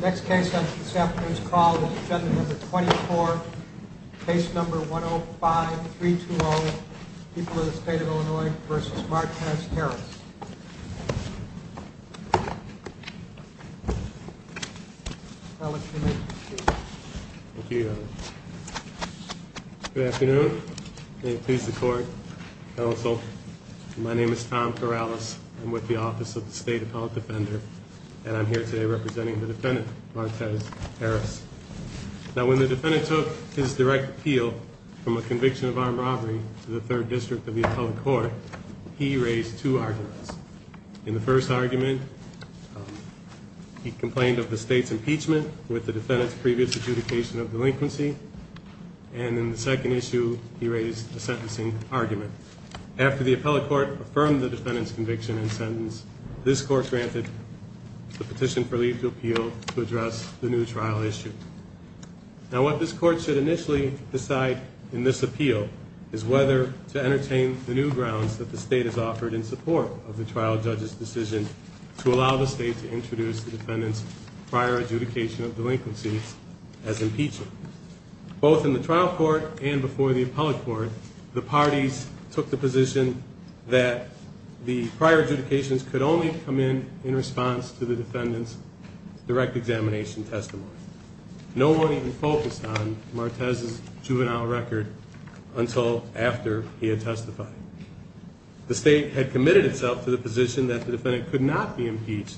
Next case on this afternoon's call is agenda number 24, case number 105-320, People of the State of Illinois v. Marquez Harris. Good afternoon. May it please the court, counsel. My name is Tom Corrales. I'm with the Office of the State Appellant Defender and I'm here today representing the defendant, Marquez Harris. Now, when the defendant took his direct appeal from a conviction of armed robbery to the Third District of the Appellate Court, he raised two arguments. In the first argument, he complained of the state's impeachment with the defendant's previous adjudication of delinquency. And in the second issue, he raised a sentencing argument. After the Appellate Court affirmed the defendant's conviction and sentence, this court granted the petition for leave to appeal to address the new trial issue. Now, what this court should initially decide in this appeal is whether to entertain the new grounds that the state has offered in support of the trial judge's decision to allow the state to introduce the defendant's prior adjudication of delinquency as impeachment. Both in the trial court and before the Appellate Court, the parties took the position that the prior adjudications could only come in in response to the defendant's direct examination testimony. No one even focused on Marquez's juvenile record until after he had testified. The state had committed itself to the position that the defendant could not be impeached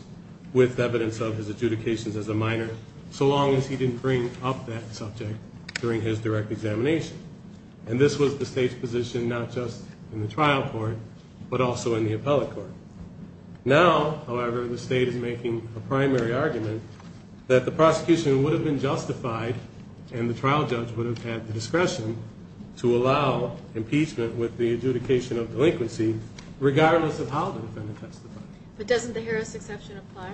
with evidence of his adjudications as a minor so long as he didn't bring up that subject during his direct examination. And this was the state's position not just in the trial court but also in the Appellate Court. Now, however, the state is making a primary argument that the prosecution would have been justified and the trial judge would have had the discretion to allow impeachment with the adjudication of delinquency regardless of how the defendant testified. But doesn't the Harris exception apply?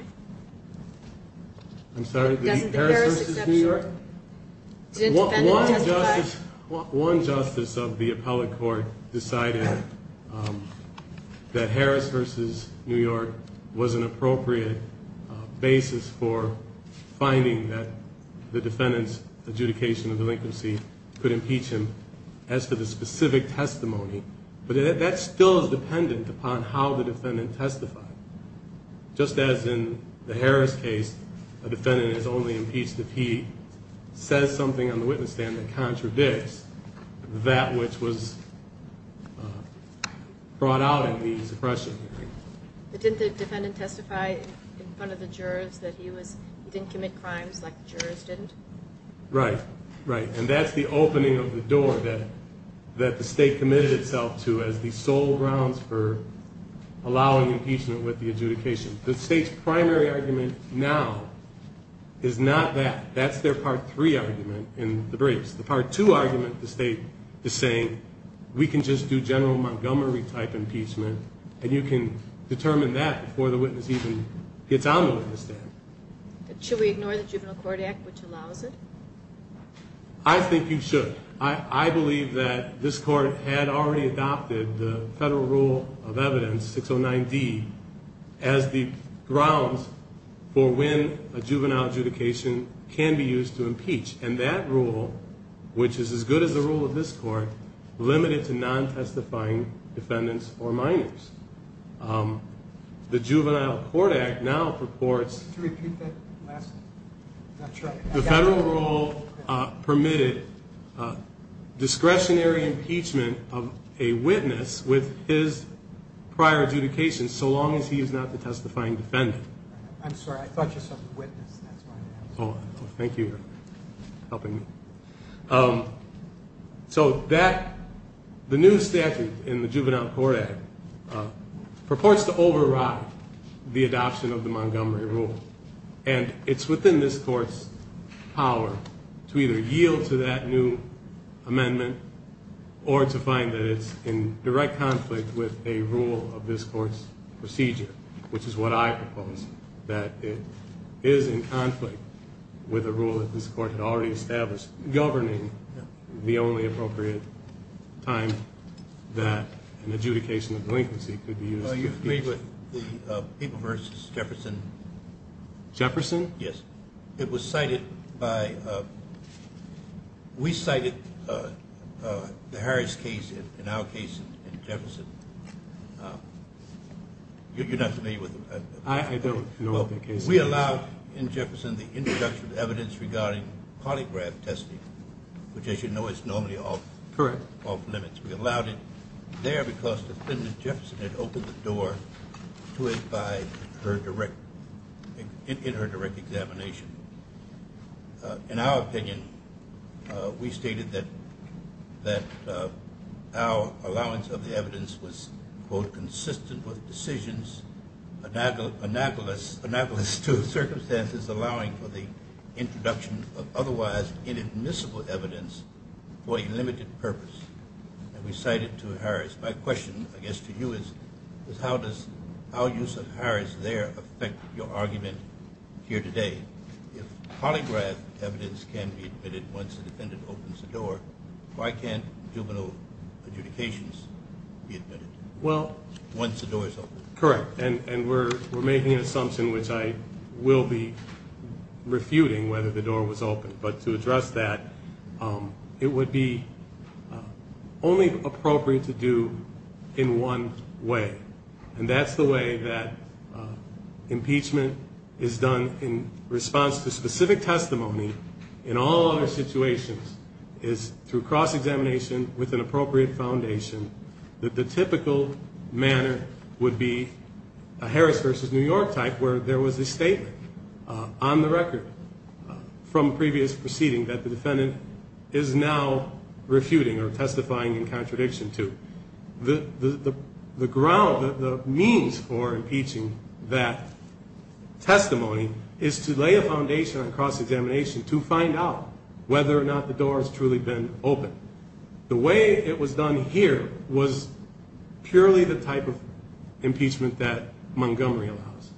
I'm sorry? Doesn't the Harris exception apply? One justice of the Appellate Court decided that Harris v. New York was an appropriate basis for finding that the defendant's adjudication of delinquency could impeach him as to the specific testimony. But that still is dependent upon how the defendant testified. Just as in the Harris case, a defendant is only impeached if he says something on the witness stand that contradicts that which was brought out in the suppression hearing. But didn't the defendant testify in front of the jurors that he didn't commit crimes like the jurors didn't? Right, right. And that's the opening of the door that the state committed itself to as the sole grounds for allowing impeachment with the adjudication. The state's primary argument now is not that. That's their Part 3 argument in the briefs. The Part 2 argument the state is saying, we can just do General Montgomery-type impeachment and you can determine that before the witness even gets on the witness stand. Should we ignore the Juvenile Court Act which allows it? I think you should. I believe that this Court had already adopted the Federal Rule of Evidence 609D as the grounds for when a juvenile adjudication can be used to impeach. And that rule, which is as good as the rule of this Court, limited to non-testifying defendants or minors. The Juvenile Court Act now purports... Could you repeat that last one? The Federal Rule permitted discretionary impeachment of a witness with his prior adjudication so long as he is not the testifying defendant. I'm sorry, I thought you said witness. Oh, thank you for helping me. So the new statute in the Juvenile Court Act purports to override the adoption of the Montgomery Rule. And it's within this Court's power to either yield to that new amendment or to find that it's in direct conflict with a rule of this Court's procedure, which is what I propose, that it is in conflict with a rule that this Court had already established governing the only appropriate time that an adjudication of delinquency could be used to impeach. I agree with the People v. Jefferson. Jefferson? Yes. It was cited by... We cited the Harris case in our case in Jefferson. You're not familiar with it? I don't know what the case is. We allowed in Jefferson the introduction of evidence regarding polygraph testing, which, as you know, is normally off limits. We allowed it there because Defendant Jefferson had opened the door to it in her direct examination. In our opinion, we stated that our allowance of the evidence was, quote, My question, I guess, to you is, how does our use of Harris there affect your argument here today? If polygraph evidence can be admitted once the defendant opens the door, why can't juvenile adjudications be admitted once the door is open? Correct. And we're making an assumption, which I will be refuting, whether the door was opened. But to address that, it would be only appropriate to do in one way, and that's the way that impeachment is done in response to specific testimony in all other situations is through cross-examination with an appropriate foundation that the typical manner would be a Harris v. New York type where there was a case proceeding that the defendant is now refuting or testifying in contradiction to. The ground, the means for impeaching that testimony is to lay a foundation on cross-examination to find out whether or not the door has truly been opened. The way it was done here was purely the type of impeachment that Montgomery allows.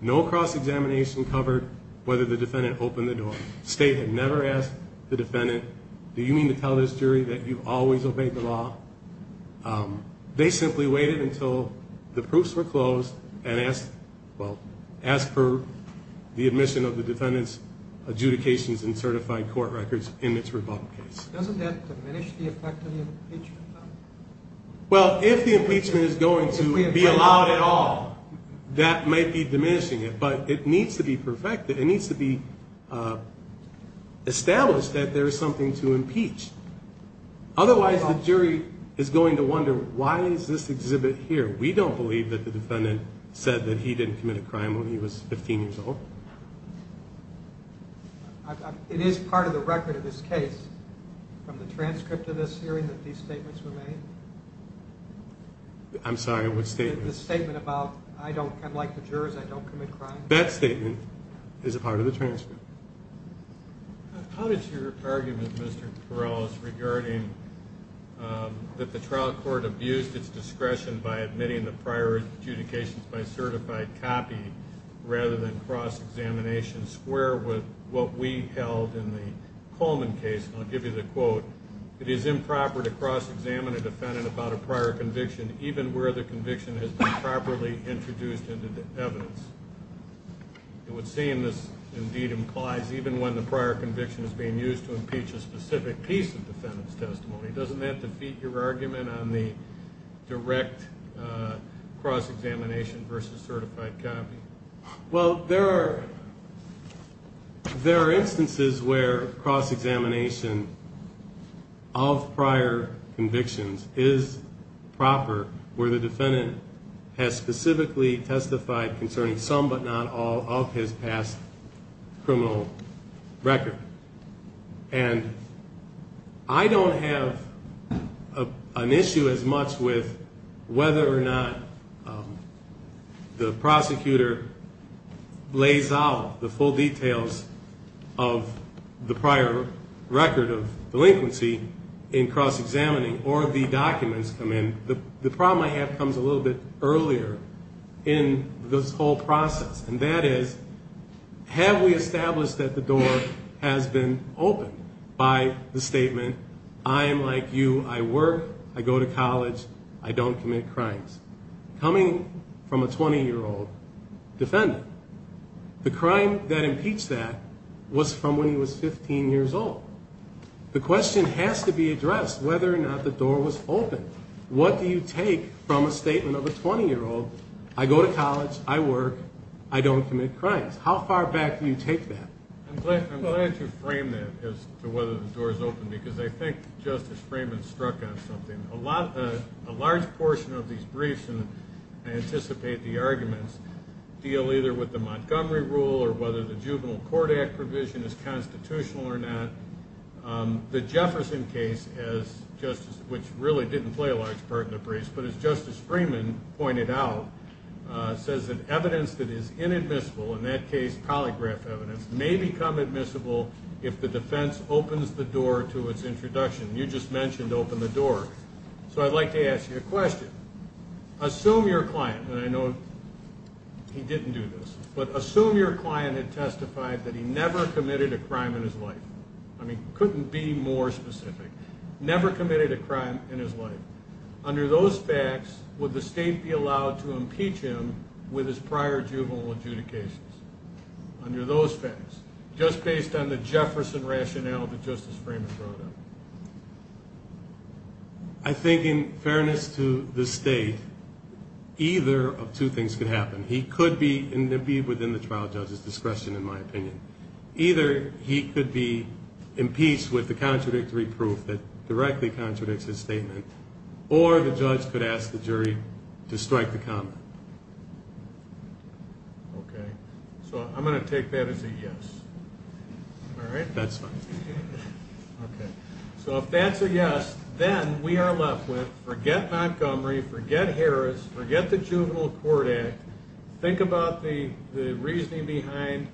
No cross-examination covered whether the defendant opened the door. The state had never asked the defendant, do you mean to tell this jury that you've always obeyed the law? They simply waited until the proofs were closed and asked for the admission of the defendant's adjudications and certified court records in this rebuttal case. Doesn't that diminish the effect of the impeachment? Well, if the impeachment is going to be allowed at all, that might be diminishing it, but it needs to be perfected. It needs to be established that there is something to impeach. Otherwise, the jury is going to wonder, why is this exhibit here? We don't believe that the defendant said that he didn't commit a crime when he was 15 years old. It is part of the record of this case from the transcript of this hearing that these statements were made? I'm sorry, what statement? The statement about, I'm like the jurors, I don't commit crimes. That statement is a part of the transcript. How does your argument, Mr. Torellis, regarding that the trial court abused its discretion by admitting the prior adjudications by certified copy rather than cross-examination square with what we held in the Coleman case? And I'll give you the quote. It is improper to cross-examine a defendant about a prior conviction, even where the conviction has been properly introduced into the evidence. And what's saying this indeed implies, even when the prior conviction is being used to impeach a specific piece of defendant's testimony, doesn't that defeat your argument on the direct cross-examination versus certified copy? Well, there are instances where cross-examination of prior convictions is proper, where the defendant has specifically testified concerning some but not all of his past criminal record. And I don't have an issue as much with whether or not the prosecutor lays out the full details of the prior record of delinquency in cross-examining or the documents come in. The problem I have comes a little bit earlier in this whole process, and that is have we established that the door has been opened by the statement, I am like you. I work. I go to college. I don't commit crimes. Coming from a 20-year-old defendant, the crime that impeached that was from when he was 15 years old. The question has to be addressed whether or not the door was opened. What do you take from a statement of a 20-year-old? I go to college. I work. I don't commit crimes. How far back do you take that? I'm glad you framed that as to whether the door is open because I think Justice Freeman struck on something. A large portion of these briefs, and I anticipate the arguments, deal either with the Montgomery Rule or whether the Juvenile Court Act provision is constitutional or not. The Jefferson case, which really didn't play a large part in the briefs, but as Justice Freeman pointed out, says that evidence that is inadmissible, in that case polygraph evidence, may become admissible if the defense opens the door to its introduction. You just mentioned open the door. So I'd like to ask you a question. Assume your client, and I know he didn't do this, but assume your client had testified that he never committed a crime in his life. I mean, couldn't be more specific. Never committed a crime in his life. Under those facts, would the state be allowed to impeach him with his prior juvenile adjudications? Under those facts, just based on the Jefferson rationale that Justice Freeman brought up? I think in fairness to the state, either of two things could happen. He could be within the trial judge's discretion, in my opinion. Either he could be impeached with the contradictory proof that directly contradicts his statement, or the judge could ask the jury to strike the comment. Okay. So I'm going to take that as a yes. All right? That's fine. Okay. So if that's a yes, then we are left with forget Montgomery, forget Harris, forget the Juvenile Court Act. Think about the reasoning behind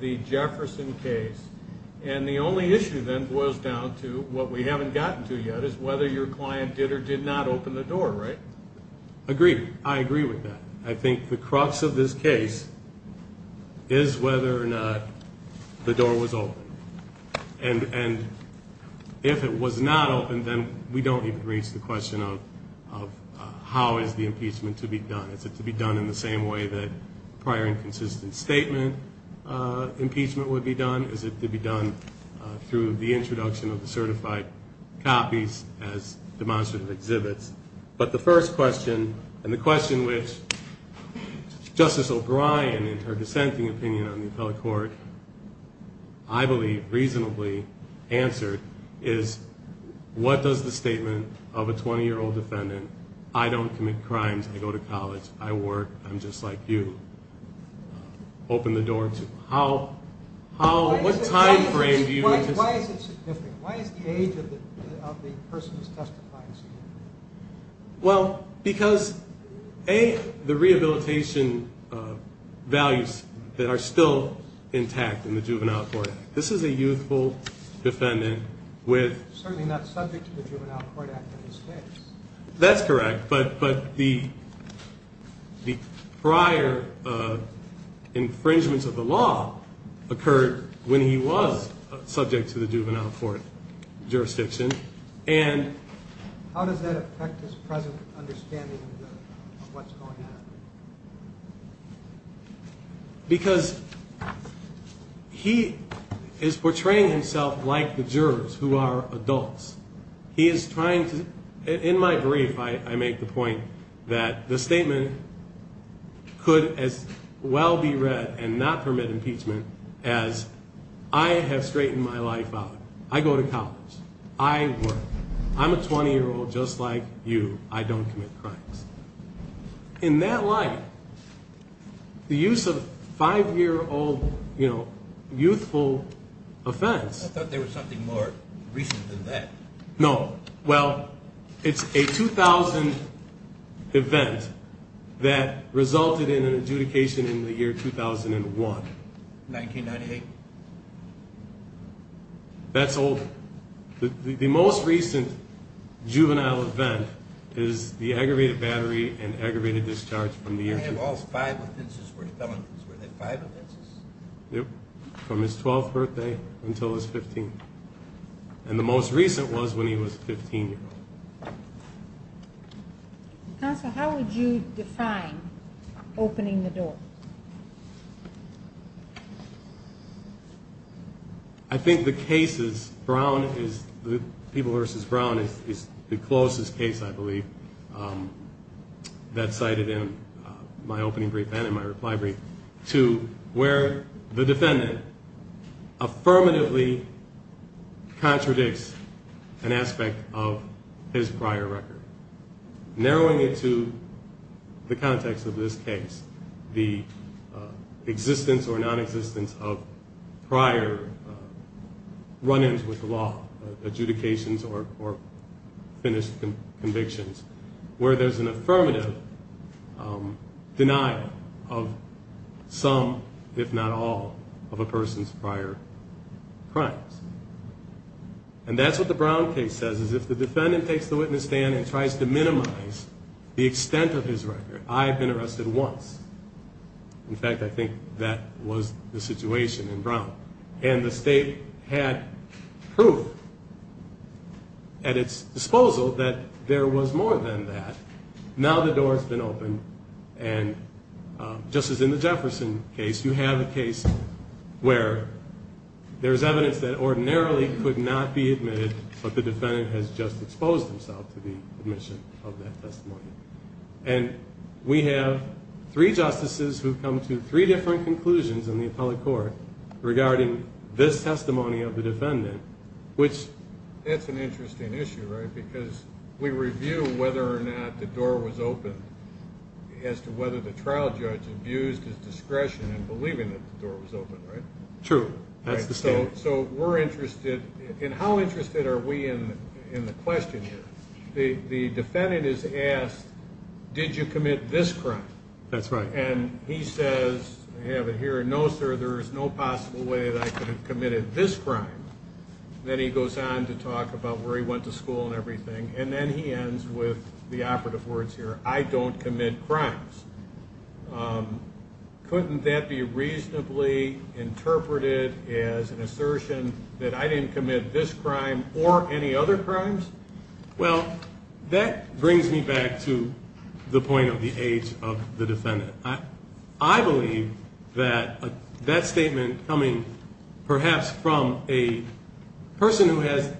the Jefferson case. And the only issue then boils down to what we haven't gotten to yet, is whether your client did or did not open the door, right? Agreed. I agree with that. I think the crux of this case is whether or not the door was open. And if it was not open, then we don't even raise the question of how is the impeachment to be done. Is it to be done in the same way that prior inconsistent statement impeachment would be done? Is it to be done through the introduction of the certified copies as demonstrative exhibits? But the first question, and the question which Justice O'Brien, in her dissenting opinion on the appellate court, I believe reasonably answered, is what does the statement of a 20-year-old defendant, I don't commit crimes, I go to college, I work, I'm just like you, open the door to? How, what time frame do you? Why is it significant? Why is the age of the person who's testifying significant? Well, because A, the rehabilitation values that are still intact in the Juvenile Court. This is a youthful defendant with. Certainly not subject to the Juvenile Court Act in this case. That's correct. But the prior infringements of the law occurred when he was subject to the Juvenile Court jurisdiction. And how does that affect his present understanding of what's going on? Because he is portraying himself like the jurors who are adults. He is trying to, in my brief, I make the point that the statement could as well be read and not permit impeachment as I have straightened my life out. I go to college. I work. I'm a 20-year-old just like you. I don't commit crimes. In that light, the use of five-year-old, you know, youthful offense. I thought there was something more recent than that. No. Well, it's a 2000 event that resulted in an adjudication in the year 2001. 1998. That's old. The most recent juvenile event is the aggravated battery and aggravated discharge from the year 2000. I have all five offenses for felons. Were there five offenses? Yep, from his 12th birthday until his 15th. And the most recent was when he was 15 years old. Counsel, how would you define opening the door? I think the cases, Brown is the people versus Brown is the closest case, I believe, that's cited in my opening brief and in my reply brief, to where the defendant affirmatively contradicts an aspect of his prior record, narrowing it to the context of this case, the existence or nonexistence of prior run-ins with the law, adjudications or finished convictions, where there's an affirmative denial of some, if not all, of a person's prior crimes. And that's what the Brown case says, is if the defendant takes the witness stand and tries to minimize the extent of his record, I've been arrested once. And the state had proof at its disposal that there was more than that. Now the door has been opened. And just as in the Jefferson case, you have a case where there's evidence that ordinarily could not be admitted, but the defendant has just exposed himself to the admission of that testimony. And we have three justices who've come to three different conclusions in the appellate court regarding this testimony of the defendant, which- That's an interesting issue, right? Because we review whether or not the door was open as to whether the trial judge abused his discretion in believing that the door was open, right? True. That's the standard. So we're interested, and how interested are we in the question here? The defendant is asked, did you commit this crime? That's right. And he says, I have it here, no, sir, there is no possible way that I could have committed this crime. Then he goes on to talk about where he went to school and everything, and then he ends with the operative words here, I don't commit crimes. Couldn't that be reasonably interpreted as an assertion that I didn't commit this crime or any other crimes? Well, that brings me back to the point of the age of the defendant. I believe that that statement coming perhaps from a person who has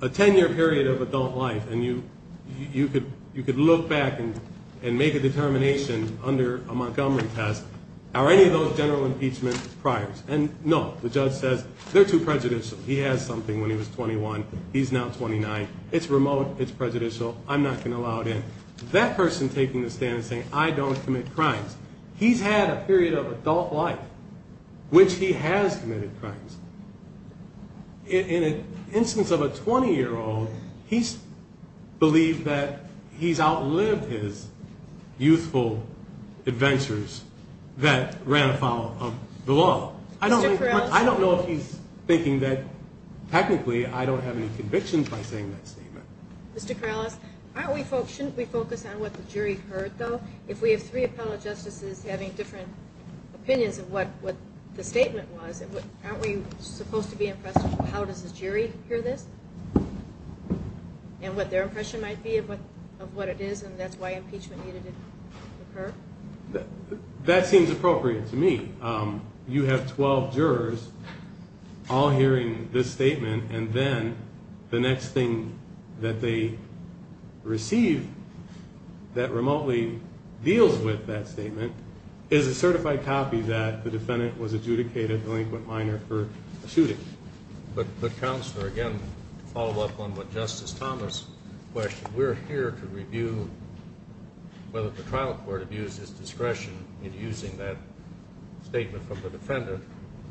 a 10-year period of adult life and you could look back and make a determination under a Montgomery test, are any of those general impeachment priors? And no, the judge says they're too prejudicial. He has something when he was 21, he's now 29. It's remote, it's prejudicial, I'm not going to allow it in. That person taking the stand and saying, I don't commit crimes, he's had a period of adult life which he has committed crimes. In an instance of a 20-year-old, he's believed that he's outlived his youthful adventures that ran afoul of the law. I don't know if he's thinking that technically I don't have any convictions by saying that statement. Mr. Corrales, shouldn't we focus on what the jury heard though? If we have three appellate justices having different opinions of what the statement was, aren't we supposed to be impressed with how does the jury hear this? And what their impression might be of what it is and that's why impeachment needed to occur? That seems appropriate to me. You have 12 jurors all hearing this statement and then the next thing that they receive that remotely deals with that statement is a certified copy that the defendant was adjudicated, delinquent minor, for a shooting. But Counselor, again, to follow up on what Justice Thomas questioned, we're here to review whether the trial court abuses discretion in using that statement from the defendant,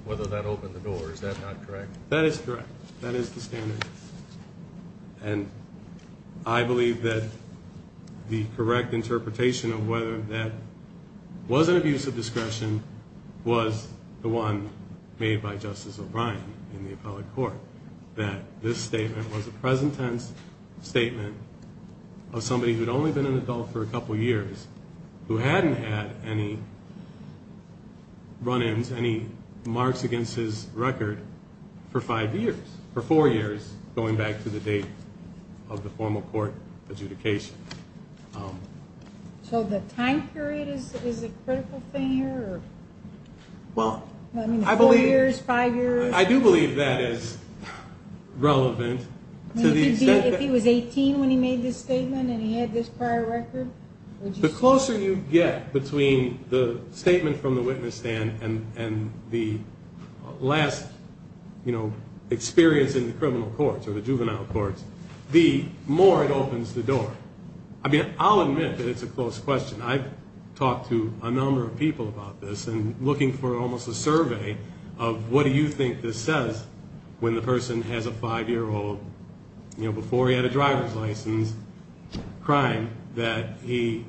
whether that opened the door. Is that not correct? That is correct. That is the standard. And I believe that the correct interpretation of whether that was an abuse of discretion was the one made by Justice O'Brien in the appellate court, that this statement was a present tense statement of somebody who had only been an adult for a couple years, who hadn't had any run-ins, any marks against his record for five years, for four years going back to the date of the formal court adjudication. So the time period is a critical thing here? Four years, five years? I do believe that is relevant. If he was 18 when he made this statement and he had this prior record? The closer you get between the statement from the witness stand and the last experience in the criminal courts or the juvenile courts, the more it opens the door. I mean, I'll admit that it's a close question. I've talked to a number of people about this and looking for almost a survey of what do you think this says when the person has a five-year-old, you know, before he had a driver's license, crying that he,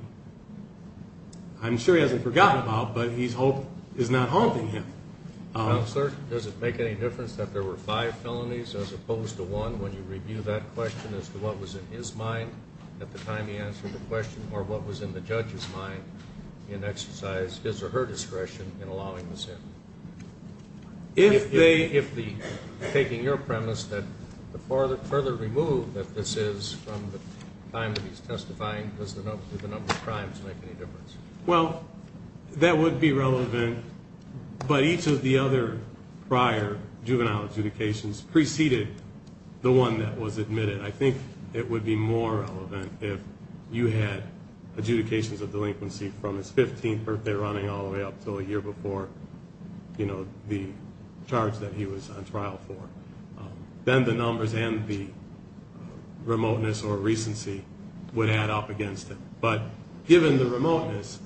I'm sure he hasn't forgotten about, but his hope is not haunting him. Counselor, does it make any difference that there were five felonies as opposed to one when you review that question as to what was in his mind at the time he answered the question or what was in the judge's mind in exercise his or her discretion in allowing this in? If taking your premise that the further removed that this is from the time that he's testifying, does the number of crimes make any difference? Well, that would be relevant, but each of the other prior juvenile adjudications preceded the one that was admitted. I think it would be more relevant if you had adjudications of delinquency from his 15th birthday running all the way up until a year before, you know, the charge that he was on trial for. Then the numbers and the remoteness or recency would add up against it. But given the remoteness,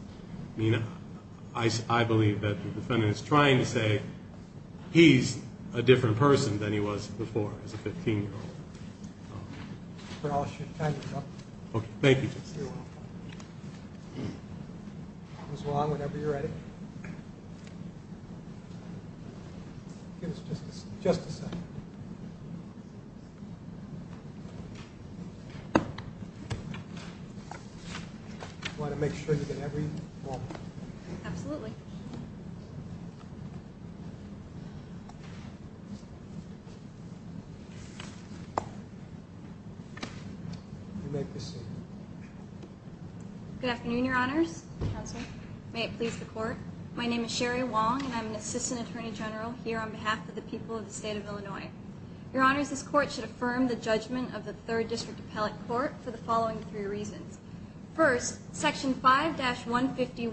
I mean, I believe that the defendant is trying to say he's a different person than he was before. He's a 15-year-old. I'll time you up. Okay. Thank you, Justice. You're welcome. Come as long whenever you're ready. Give us just a second. You want to make sure you get every moment. Absolutely. You may proceed. Good afternoon, Your Honors. Counselor. May it please the Court. My name is Sherry Wong, and I'm an Assistant Attorney General here on behalf of the people of the State of Illinois. Your Honors, this Court should affirm the judgment of the Third District Appellate Court for the following three reasons. First, the First District's decision in People v. Montgomery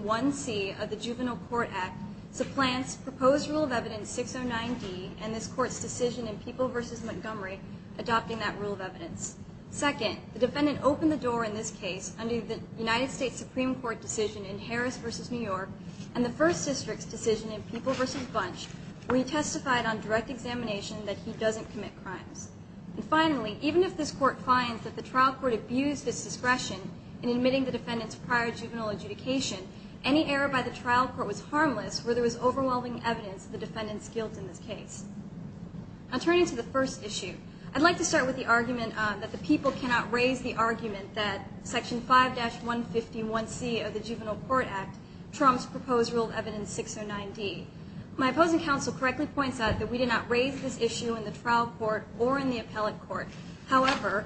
adopting that rule of evidence. Second, the defendant opened the door in this case under the United States Supreme Court decision in Harris v. New York and the First District's decision in People v. Bunch where he testified on direct examination that he doesn't commit crimes. And finally, even if this Court finds that the trial court abused its discretion in admitting the defendant's prior juvenile adjudication, any error by the trial court was harmless where there was overwhelming evidence of the defendant's guilt in this case. Now turning to the first issue, I'd like to start with the argument that the people cannot raise the argument that Section 5-151C of the Juvenile Court Act trumps proposed rule of evidence 609D. My opposing counsel correctly points out that we did not raise this issue in the trial court or in the appellate court. However,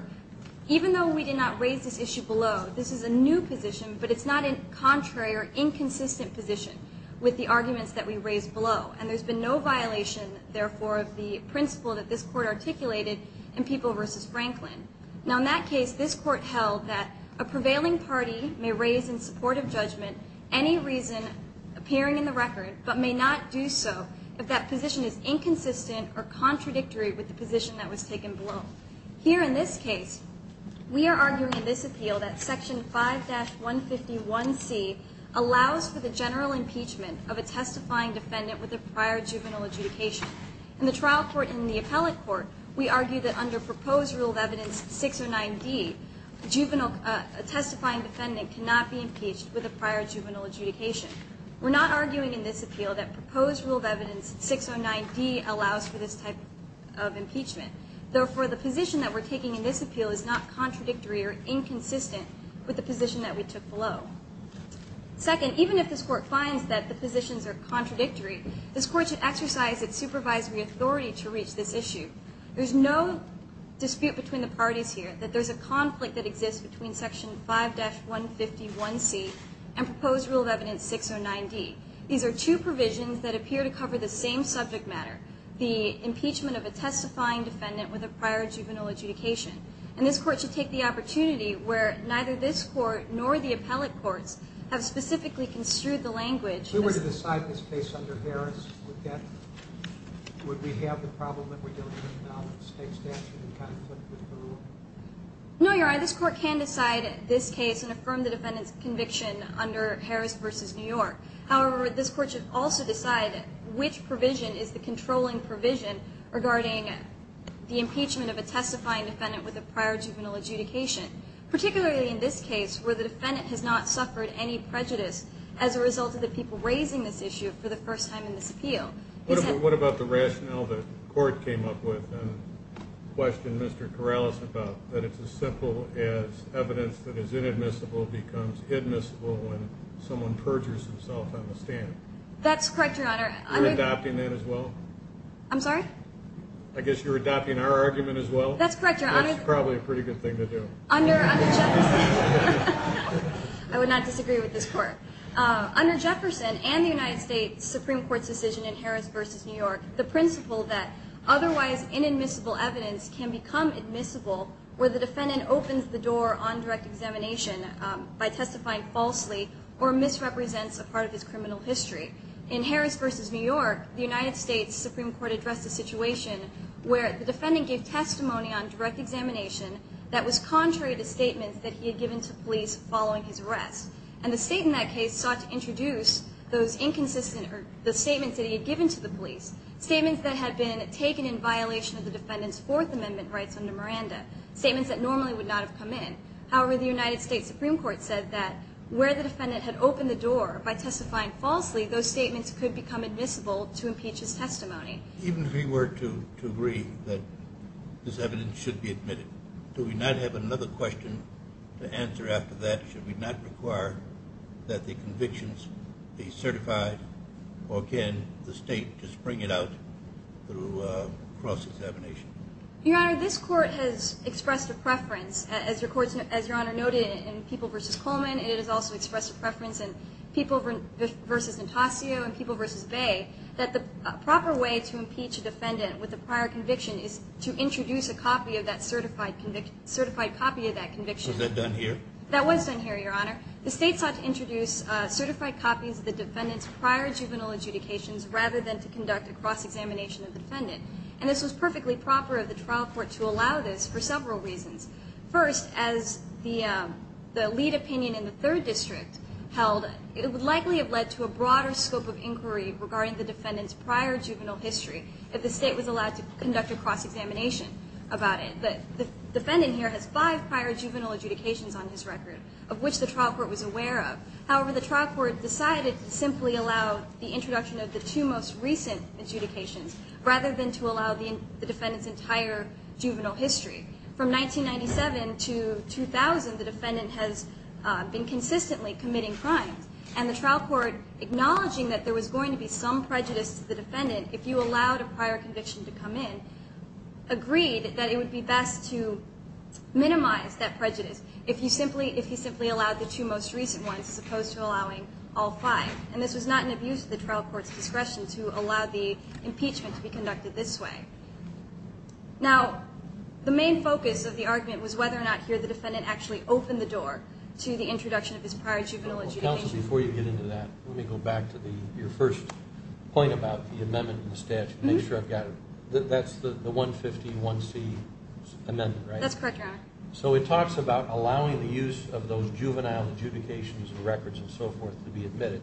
even though we did not raise this issue below, this is a new position but it's not a contrary or inconsistent position with the arguments that we raised below. And there's been no violation, therefore, of the principle that this Court articulated in People v. Franklin. Now in that case, this Court held that a prevailing party may raise in support of judgment any reason appearing in the record but may not do so if that position is inconsistent or contradictory with the position that was taken below. Here in this case, we are arguing in this appeal that Section 5-151C allows for the general impeachment of a testifying defendant with a prior juvenile adjudication. In the trial court and the appellate court, we argue that under proposed rule of evidence 609D, a testifying defendant cannot be impeached with a prior juvenile adjudication. We're not arguing in this appeal that proposed rule of evidence 609D allows for this type of impeachment. Therefore, the position that we're taking in this appeal is not contradictory or inconsistent with the position that we took below. Second, even if this Court finds that the positions are contradictory, this Court should exercise its supervisory authority to reach this issue. There's no dispute between the parties here that there's a conflict that exists between Section 5-151C and proposed rule of evidence 609D. These are two provisions that appear to cover the same subject matter, the impeachment of a testifying defendant with a prior juvenile adjudication. And this Court should take the opportunity where neither this Court nor the appellate courts have specifically construed the language. If we were to decide this case under Harris, would we have the problem that we're dealing with now with state statute and conflict with the rule? No, Your Honor. This Court can decide this case and affirm the defendant's conviction under Harris v. New York. However, this Court should also decide which provision is the controlling provision regarding the impeachment of a testifying defendant with a prior juvenile adjudication, particularly in this case where the defendant has not suffered any prejudice as a result of the people raising this issue for the first time in this appeal. What about the rationale that the Court came up with and questioned Mr. Corrales about, that it's as simple as evidence that is inadmissible becomes admissible when someone perjures himself on the stand? That's correct, Your Honor. Are you adopting that as well? I'm sorry? I guess you're adopting our argument as well? That's correct, Your Honor. That's probably a pretty good thing to do. Under Jefferson, I would not disagree with this Court. Under Jefferson and the United States Supreme Court's decision in Harris v. New York, the principle that otherwise inadmissible evidence can become admissible where the defendant opens the door on direct examination by testifying falsely or misrepresents a part of his criminal history. In Harris v. New York, the United States Supreme Court addressed a situation where the defendant gave testimony on direct examination that was contrary to statements that he had given to police following his arrest. And the state in that case sought to introduce the statements that he had given to the police, statements that had been taken in violation of the defendant's Fourth Amendment rights under Miranda, statements that normally would not have come in. However, the United States Supreme Court said that where the defendant had opened the door by testifying falsely, those statements could become admissible to impeach his testimony. Even if he were to agree that this evidence should be admitted, do we not have another question to answer after that? Should we not require that the convictions be certified, or can the state just bring it out through cross-examination? Your Honor, this Court has expressed a preference. As Your Honor noted in People v. Coleman, it has also expressed a preference in People v. Natasio and People v. Bay, that the proper way to impeach a defendant with a prior conviction is to introduce a copy of that certified conviction, certified copy of that conviction. Was that done here? That was done here, Your Honor. The state sought to introduce certified copies of the defendant's prior juvenile adjudications rather than to conduct a cross-examination of the defendant. And this was perfectly proper of the trial court to allow this for several reasons. First, as the lead opinion in the Third District held, it would likely have led to a broader scope of inquiry regarding the defendant's prior juvenile history if the state was allowed to conduct a cross-examination about it. The defendant here has five prior juvenile adjudications on his record, of which the trial court was aware of. However, the trial court decided to simply allow the introduction of the two most recent adjudications rather than to allow the defendant's entire juvenile history. From 1997 to 2000, the defendant has been consistently committing crimes. And the trial court, acknowledging that there was going to be some prejudice to the defendant if you allowed a prior conviction to come in, agreed that it would be best to minimize that prejudice if he simply allowed the two most recent ones as opposed to allowing all five. And this was not an abuse of the trial court's discretion to allow the impeachment to be conducted this way. Now, the main focus of the argument was whether or not here the defendant actually opened the door to the introduction of his prior juvenile adjudication. Counsel, before you get into that, let me go back to your first point about the amendment in the statute. Make sure I've got it. That's the 150-1C amendment, right? That's correct, Your Honor. So it talks about allowing the use of those juvenile adjudications and records and so forth to be admitted,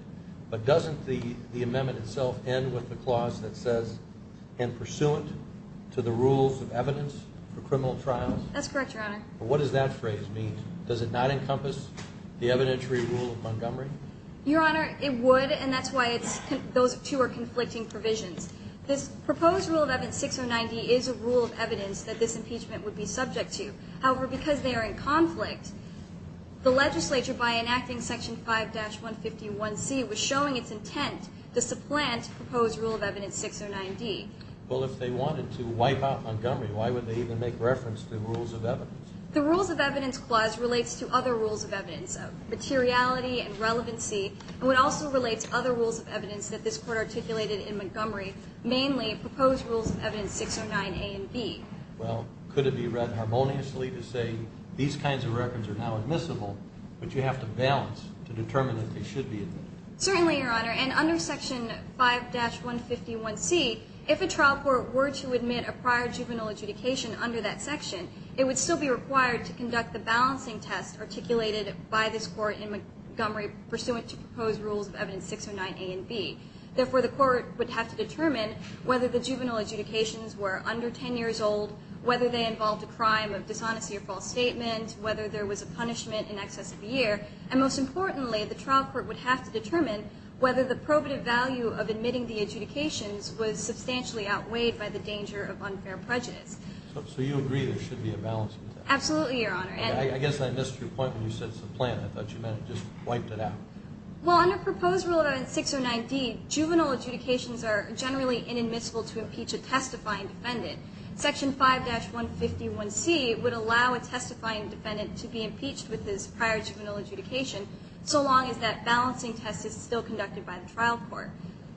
but doesn't the amendment itself end with the clause that says, and pursuant to the rules of evidence for criminal trials? That's correct, Your Honor. What does that phrase mean? Does it not encompass the evidentiary rule of Montgomery? Your Honor, it would, and that's why those two are conflicting provisions. This proposed rule of evidence 609D is a rule of evidence that this impeachment would be subject to. However, because they are in conflict, the legislature, by enacting section 5-151C, was showing its intent to supplant the proposed rule of evidence 609D. Well, if they wanted to wipe out Montgomery, why would they even make reference to the rules of evidence? The rules of evidence clause relates to other rules of evidence, of materiality and relevancy, and it also relates to other rules of evidence that this Court articulated in Montgomery, mainly proposed rules of evidence 609A and B. Well, could it be read harmoniously to say these kinds of records are now admissible, but you have to balance to determine if they should be admitted? Certainly, Your Honor, and under section 5-151C, if a trial court were to admit a prior juvenile adjudication under that section, it would still be required to conduct the balancing test articulated by this Court in Montgomery pursuant to proposed rules of evidence 609A and B. Therefore, the Court would have to determine whether the juvenile adjudications were under 10 years old, whether they involved a crime of dishonesty or false statement, whether there was a punishment in excess of a year, and most importantly, the trial court would have to determine whether the probative value of admitting the adjudications was substantially outweighed by the danger of unfair prejudice. So you agree there should be a balance with that? Absolutely, Your Honor. I guess I missed your point when you said it's a plan. I thought you meant it just wiped it out. Well, under proposed rule of evidence 609D, juvenile adjudications are generally inadmissible to impeach a testifying defendant. Section 5-151C would allow a testifying defendant to be impeached with this prior juvenile adjudication so long as that balancing test is still conducted by the trial court.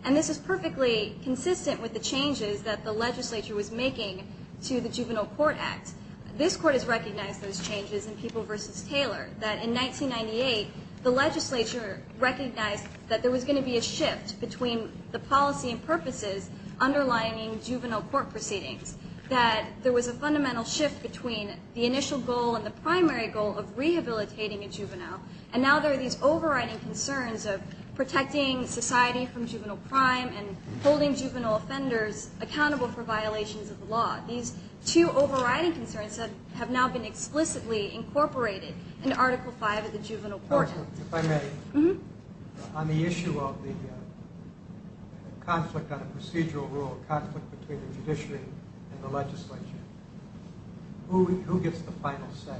And this is perfectly consistent with the changes that the legislature was making to the Juvenile Court Act. This Court has recognized those changes in People v. Taylor, that in 1998 the legislature recognized that there was going to be a shift between the policy and purposes underlying juvenile court proceedings, that there was a fundamental shift between the initial goal and the primary goal of rehabilitating a juvenile, and now there are these overriding concerns of protecting society from juvenile crime and holding juvenile offenders accountable for violations of the law. These two overriding concerns have now been explicitly incorporated in Article V of the Juvenile Court Act. If I may, on the issue of the conflict on a procedural rule, conflict between the judiciary and the legislature, who gets the final say?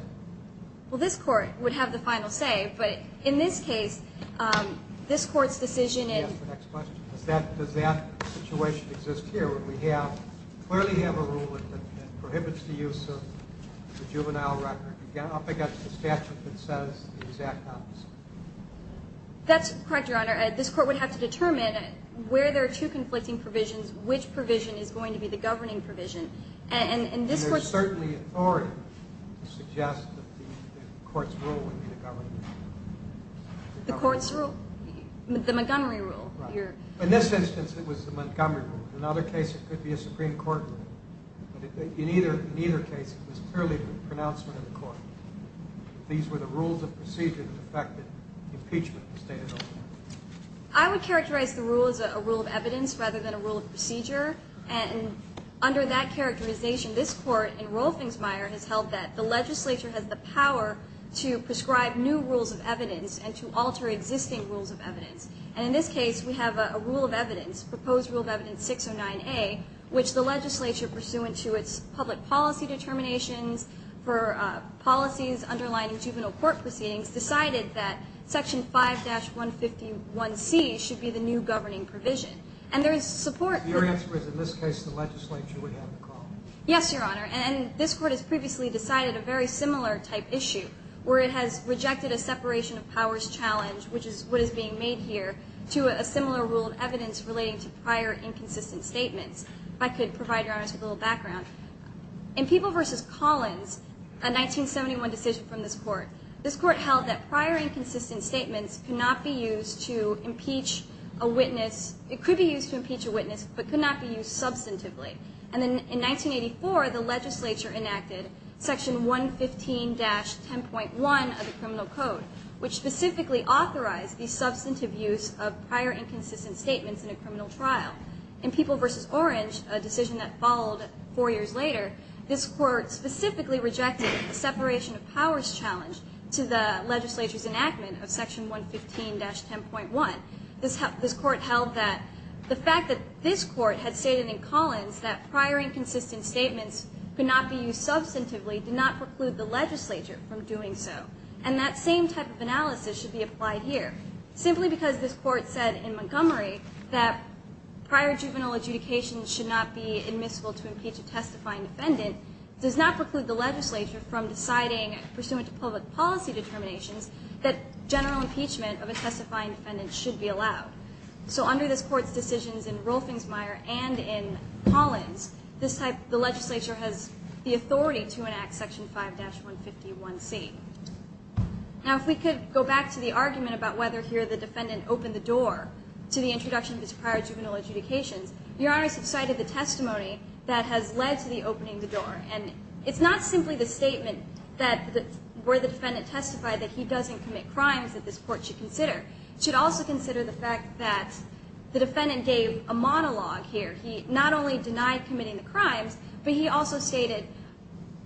Well, this Court would have the final say, but in this case, this Court's decision in Does that situation exist here where we clearly have a rule that prohibits the use of the juvenile record? Again, I'll pick up the statute that says the exact opposite. That's correct, Your Honor. This Court would have to determine where there are two conflicting provisions, which provision is going to be the governing provision. And this Court's There's certainly authority to suggest that the Court's rule would be the governing provision. The Court's rule? The Montgomery rule? In this instance, it was the Montgomery rule. In another case, it could be a Supreme Court rule. In either case, it was clearly the pronouncement of the Court. These were the rules of procedure that affected impeachment, as stated elsewhere. I would characterize the rule as a rule of evidence rather than a rule of procedure, and under that characterization, this Court in Roelfingmeyer has held that the legislature has the power to prescribe new rules of evidence and to alter existing rules of evidence. And in this case, we have a rule of evidence, Proposed Rule of Evidence 609A, which the legislature, pursuant to its public policy determinations for policies underlying juvenile court proceedings, decided that Section 5-151C should be the new governing provision. And there is support for Your answer is, in this case, the legislature would have the call. Yes, Your Honor. And this Court has previously decided a very similar type issue, where it has rejected a separation of powers challenge, which is what is being made here, to a similar rule of evidence relating to prior inconsistent statements. If I could provide Your Honor with a little background. In People v. Collins, a 1971 decision from this Court, this Court held that prior inconsistent statements could not be used to impeach a witness. It could be used to impeach a witness, but could not be used substantively. And then in 1984, the legislature enacted Section 115-10.1 of the Criminal Code, which specifically authorized the substantive use of prior inconsistent statements in a criminal trial. In People v. Orange, a decision that followed four years later, this Court specifically rejected the separation of powers challenge to the legislature's enactment of Section 115-10.1. This Court held that the fact that this Court had stated in Collins that prior inconsistent statements could not be used substantively did not preclude the legislature from doing so. And that same type of analysis should be applied here. Simply because this Court said in Montgomery that prior juvenile adjudication should not be admissible to impeach a testifying defendant does not preclude the legislature from deciding, pursuant to public policy determinations, that general impeachment of a testifying defendant should be allowed. So under this Court's decisions in Rolfingsmeier and in Collins, the legislature has the authority to enact Section 5-151C. Now if we could go back to the argument about whether here the defendant opened the door to the introduction of his prior juvenile adjudications, Your Honors have cited the testimony that has led to the opening of the door. And it's not simply the statement where the defendant testified that he doesn't commit crimes that this Court should consider. It should also consider the fact that the defendant gave a monologue here. He not only denied committing the crimes, but he also stated,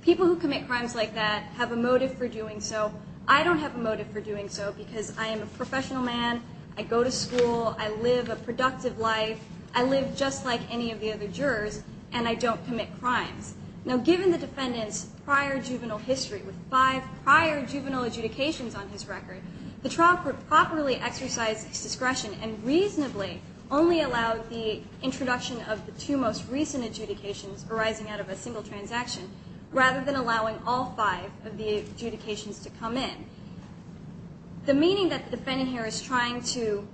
people who commit crimes like that have a motive for doing so. I don't have a motive for doing so because I am a professional man, I go to school, I live a productive life, I live just like any of the other jurors, and I don't commit crimes. Now given the defendant's prior juvenile history, with five prior juvenile adjudications on his record, the trial group properly exercised its discretion and reasonably only allowed the introduction of the two most recent adjudications arising out of a single transaction, rather than allowing all five of the adjudications to come in. The meaning that the defendant here is trying to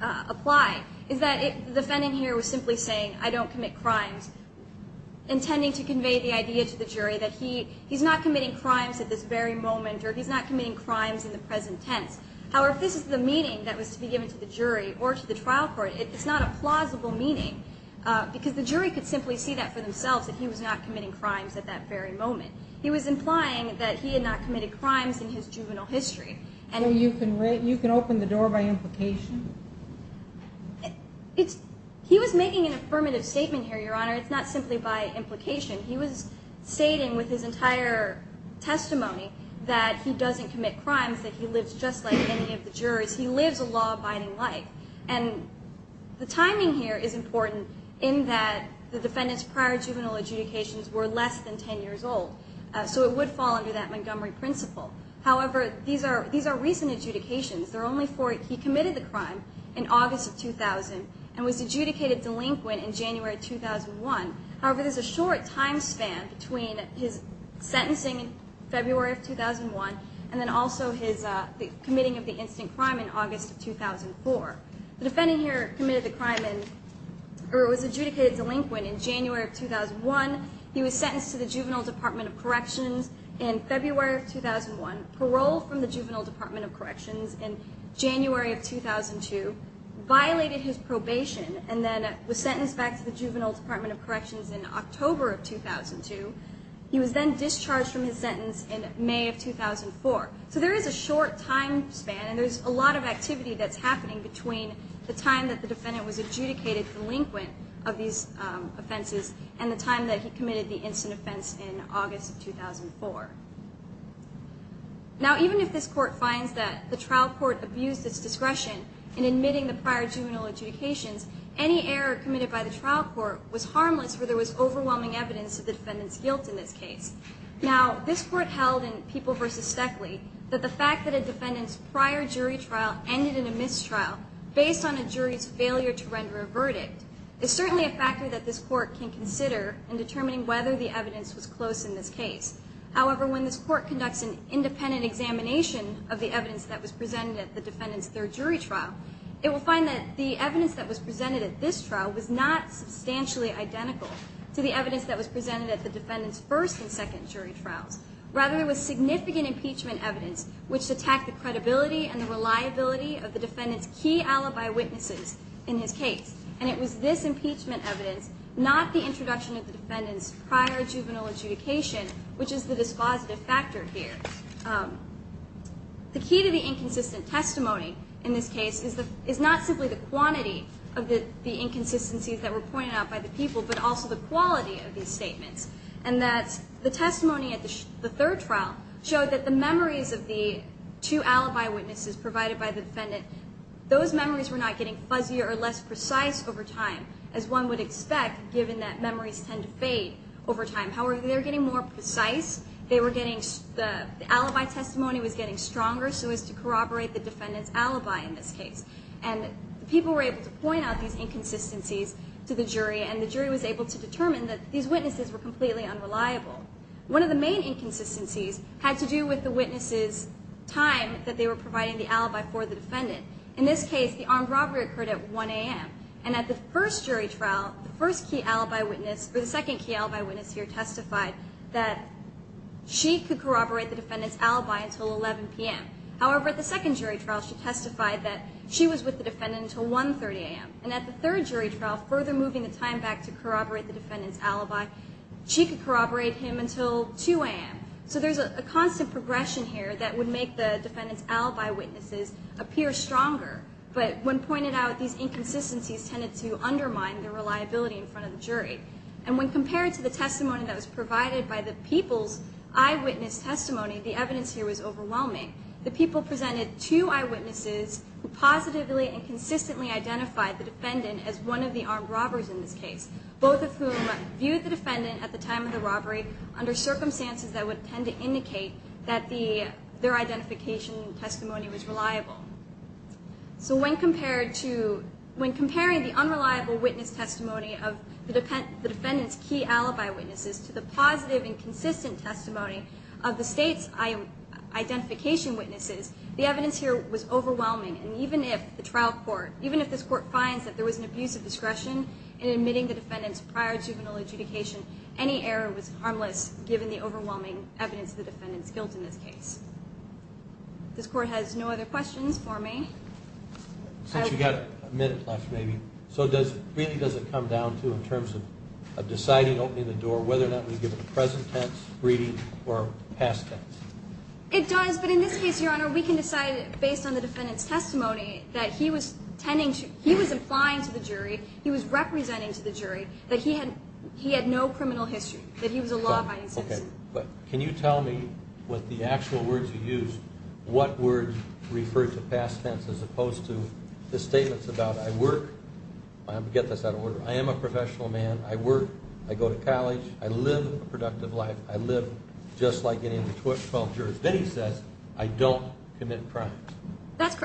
apply is that the defendant here was simply saying, I don't commit crimes, intending to convey the idea to the jury that he's not committing crimes at this very moment or he's not committing crimes in the present tense. However, if this is the meaning that was to be given to the jury or to the trial court, it's not a plausible meaning because the jury could simply see that for themselves that he was not committing crimes at that very moment. He was implying that he had not committed crimes in his juvenile history. So you can open the door by implication? He was making an affirmative statement here, Your Honor. It's not simply by implication. He was stating with his entire testimony that he doesn't commit crimes, that he lives just like any of the jurors. He lives a law-abiding life. And the timing here is important in that the defendant's prior juvenile adjudications were less than 10 years old, so it would fall under that Montgomery principle. However, these are recent adjudications. They're only for he committed the crime in August of 2000 and was adjudicated delinquent in January of 2001. However, there's a short time span between his sentencing in February of 2001 and then also his committing of the instant crime in August of 2004. The defendant here committed the crime and was adjudicated delinquent in January of 2001. He was sentenced to the Juvenile Department of Corrections in February of 2001, paroled from the Juvenile Department of Corrections in January of 2002, violated his probation, and then was sentenced back to the Juvenile Department of Corrections in October of 2002. He was then discharged from his sentence in May of 2004. So there is a short time span, and there's a lot of activity that's happening between the time that the defendant was adjudicated delinquent of these offenses and the time that he committed the instant offense in August of 2004. Now, even if this court finds that the trial court abused its discretion in admitting the prior juvenile adjudications, any error committed by the trial court was harmless where there was overwhelming evidence of the defendant's guilt in this case. Now, this court held in People v. Steckley that the fact that a defendant's prior jury trial ended in a mistrial based on a jury's failure to render a verdict is certainly a factor that this court can consider in determining whether the evidence was close in this case. However, when this court conducts an independent examination of the evidence that was presented at the defendant's third jury trial, it will find that the evidence that was presented at this trial was not substantially identical to the evidence that was presented at the defendant's first and second jury trials. Rather, it was significant impeachment evidence which attacked the credibility and the reliability of the defendant's key alibi witnesses in his case, and it was this impeachment evidence, not the introduction of the defendant's prior juvenile adjudication, which is the dispositive factor here. The key to the inconsistent testimony in this case is not simply the quantity of the inconsistencies that were pointed out by the people, but also the quality of these statements, and that the testimony at the third trial showed that the memories of the two alibi witnesses provided by the defendant, those memories were not getting fuzzier or less precise over time as one would expect given that memories tend to fade over time. However, they were getting more precise, the alibi testimony was getting stronger so as to corroborate the defendant's alibi in this case. And people were able to point out these inconsistencies to the jury and the jury was able to determine that these witnesses were completely unreliable. One of the main inconsistencies had to do with the witnesses' time that they were providing the alibi for the defendant. In this case, the armed robbery occurred at 1 a.m. And at the first jury trial, the first key alibi witness, or the second key alibi witness here testified that she could corroborate the defendant's alibi until 11 p.m. However, at the second jury trial she testified that she was with the defendant until 1.30 a.m. And at the third jury trial, further moving the time back to corroborate the defendant's alibi, she could corroborate him until 2 a.m. So there's a constant progression here that would make the defendant's alibi witnesses appear stronger. But when pointed out, these inconsistencies tended to undermine the reliability in front of the jury. And when compared to the testimony that was provided by the people's eyewitness testimony, the evidence here was overwhelming. The people presented two eyewitnesses positively and consistently identified the defendant as one of the armed robbers in this case, both of whom viewed the defendant at the time of the robbery under circumstances that would tend to indicate that their identification testimony was reliable. So when comparing the unreliable witness testimony of the defendant's key alibi witnesses to the positive and consistent testimony of the state's identification witnesses, the evidence here was overwhelming. And even if the trial court, even if this court finds that there was an abuse of discretion in admitting the defendant's prior juvenile adjudication, any error was harmless given the overwhelming evidence of the defendant's guilt in this case. This court has no other questions for me. Since we've got a minute left, maybe. So really does it come down to, in terms of deciding, opening the door, whether or not we give a present tense, reading, or past tense? It does. But in this case, Your Honor, we can decide based on the defendant's testimony that he was implying to the jury, he was representing to the jury, that he had no criminal history, that he was a law-abiding citizen. Okay. But can you tell me what the actual words you used, what words referred to past tense as opposed to the statements about, I work, I'm going to get this out of order, I am a professional man, I work, I go to college, I live a productive life, I live just like any of the 12 jurors. Then he says, I don't commit crimes.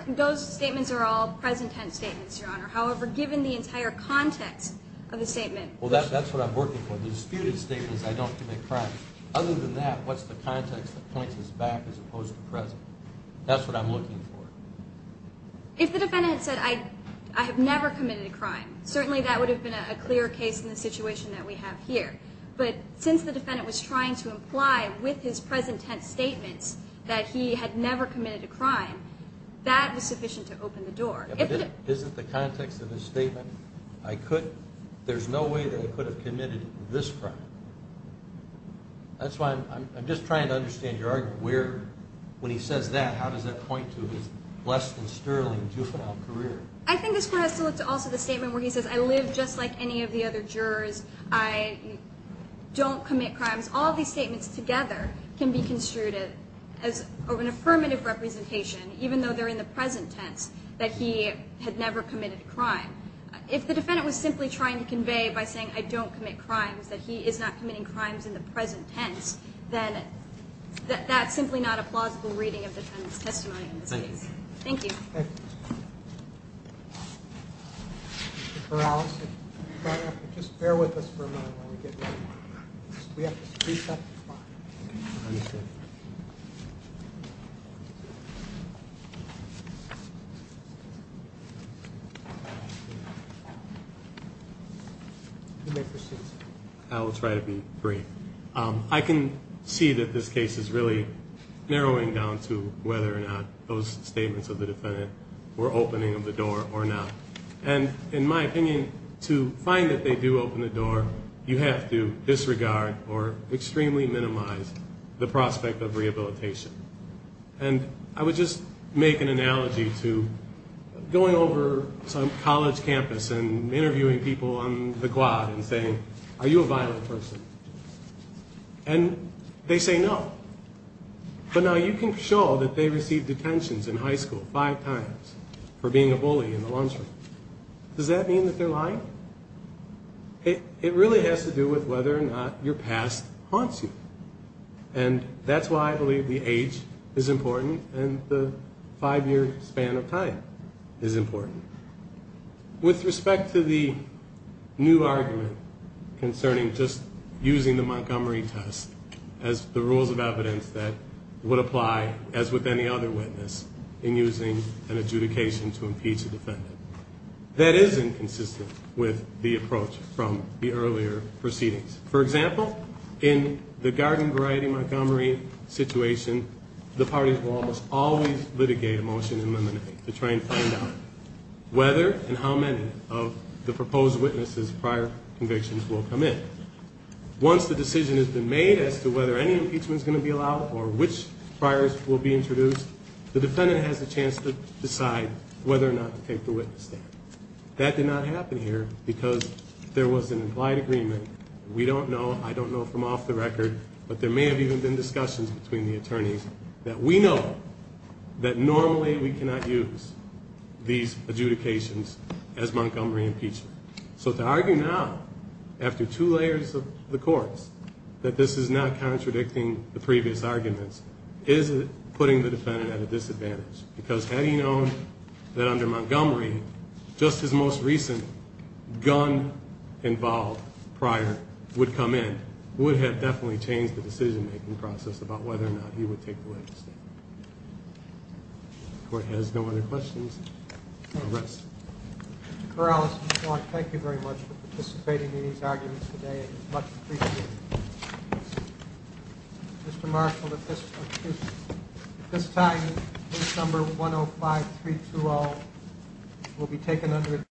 Those statements are all present tense statements, Your Honor. However, given the entire context of the statement. Well, that's what I'm working for. The disputed statement is, I don't commit crimes. Other than that, what's the context that points us back as opposed to present? That's what I'm looking for. If the defendant had said, I have never committed a crime, certainly that would have been a clear case in the situation that we have here. But since the defendant was trying to imply with his present tense statements that he had never committed a crime, that was sufficient to open the door. If it isn't the context of his statement, there's no way that he could have committed this crime. That's why I'm just trying to understand your argument. When he says that, how does that point to his less than sterling juvenile career? I think this point has to look to also the statement where he says, I live just like any of the other jurors. I don't commit crimes. All these statements together can be construed as an affirmative representation, even though they're in the present tense, that he had never committed a crime. If the defendant was simply trying to convey by saying, I don't commit crimes, that he is not committing crimes in the present tense, then that's simply not a plausible reading of the defendant's testimony in this case. Thank you. Thank you. Ms. Morales, if you don't mind, We have to speed up the clock. Understood. You may proceed, sir. I will try to be brief. I can see that this case is really narrowing down to whether or not those statements of the defendant were opening of the door or not. You have to disregard or extremely minimize the prospect of rehabilitation. And I would just make an analogy to going over some college campus and interviewing people on the quad and saying, are you a violent person? And they say no. But now you can show that they received detentions in high school five times for being a bully in the lunchroom. Does that mean that they're lying? No. It really has to do with whether or not your past haunts you. And that's why I believe the age is important and the five-year span of time is important. With respect to the new argument concerning just using the Montgomery test as the rules of evidence that would apply, as with any other witness, in using an adjudication to impeach a defendant, that is inconsistent with the approach from the earlier proceedings. For example, in the Garden Variety Montgomery situation, the parties will almost always litigate a motion in limine to try and find out whether and how many of the proposed witnesses' prior convictions will come in. Once the decision has been made as to whether any impeachment is going to be allowed or which priors will be introduced, the defendant has a chance to decide whether or not to take the witness stand. That did not happen here because there was an implied agreement. We don't know, I don't know from off the record, but there may have even been discussions between the attorneys that we know that normally we cannot use these adjudications as Montgomery impeachment. So to argue now, after two layers of the courts, that this is not contradicting the previous arguments is putting the defendant at a disadvantage because had he known that under Montgomery just his most recent gun-involved prior would come in, it would have definitely changed the decision-making process about whether or not he would take the witness stand. The court has no other questions. No rest. Mr. Corrales, Mr. Clark, thank you very much for participating in these arguments today. It was much appreciated. Mr. Marshall, at this time, case number 105-320 will be taken under adjournment.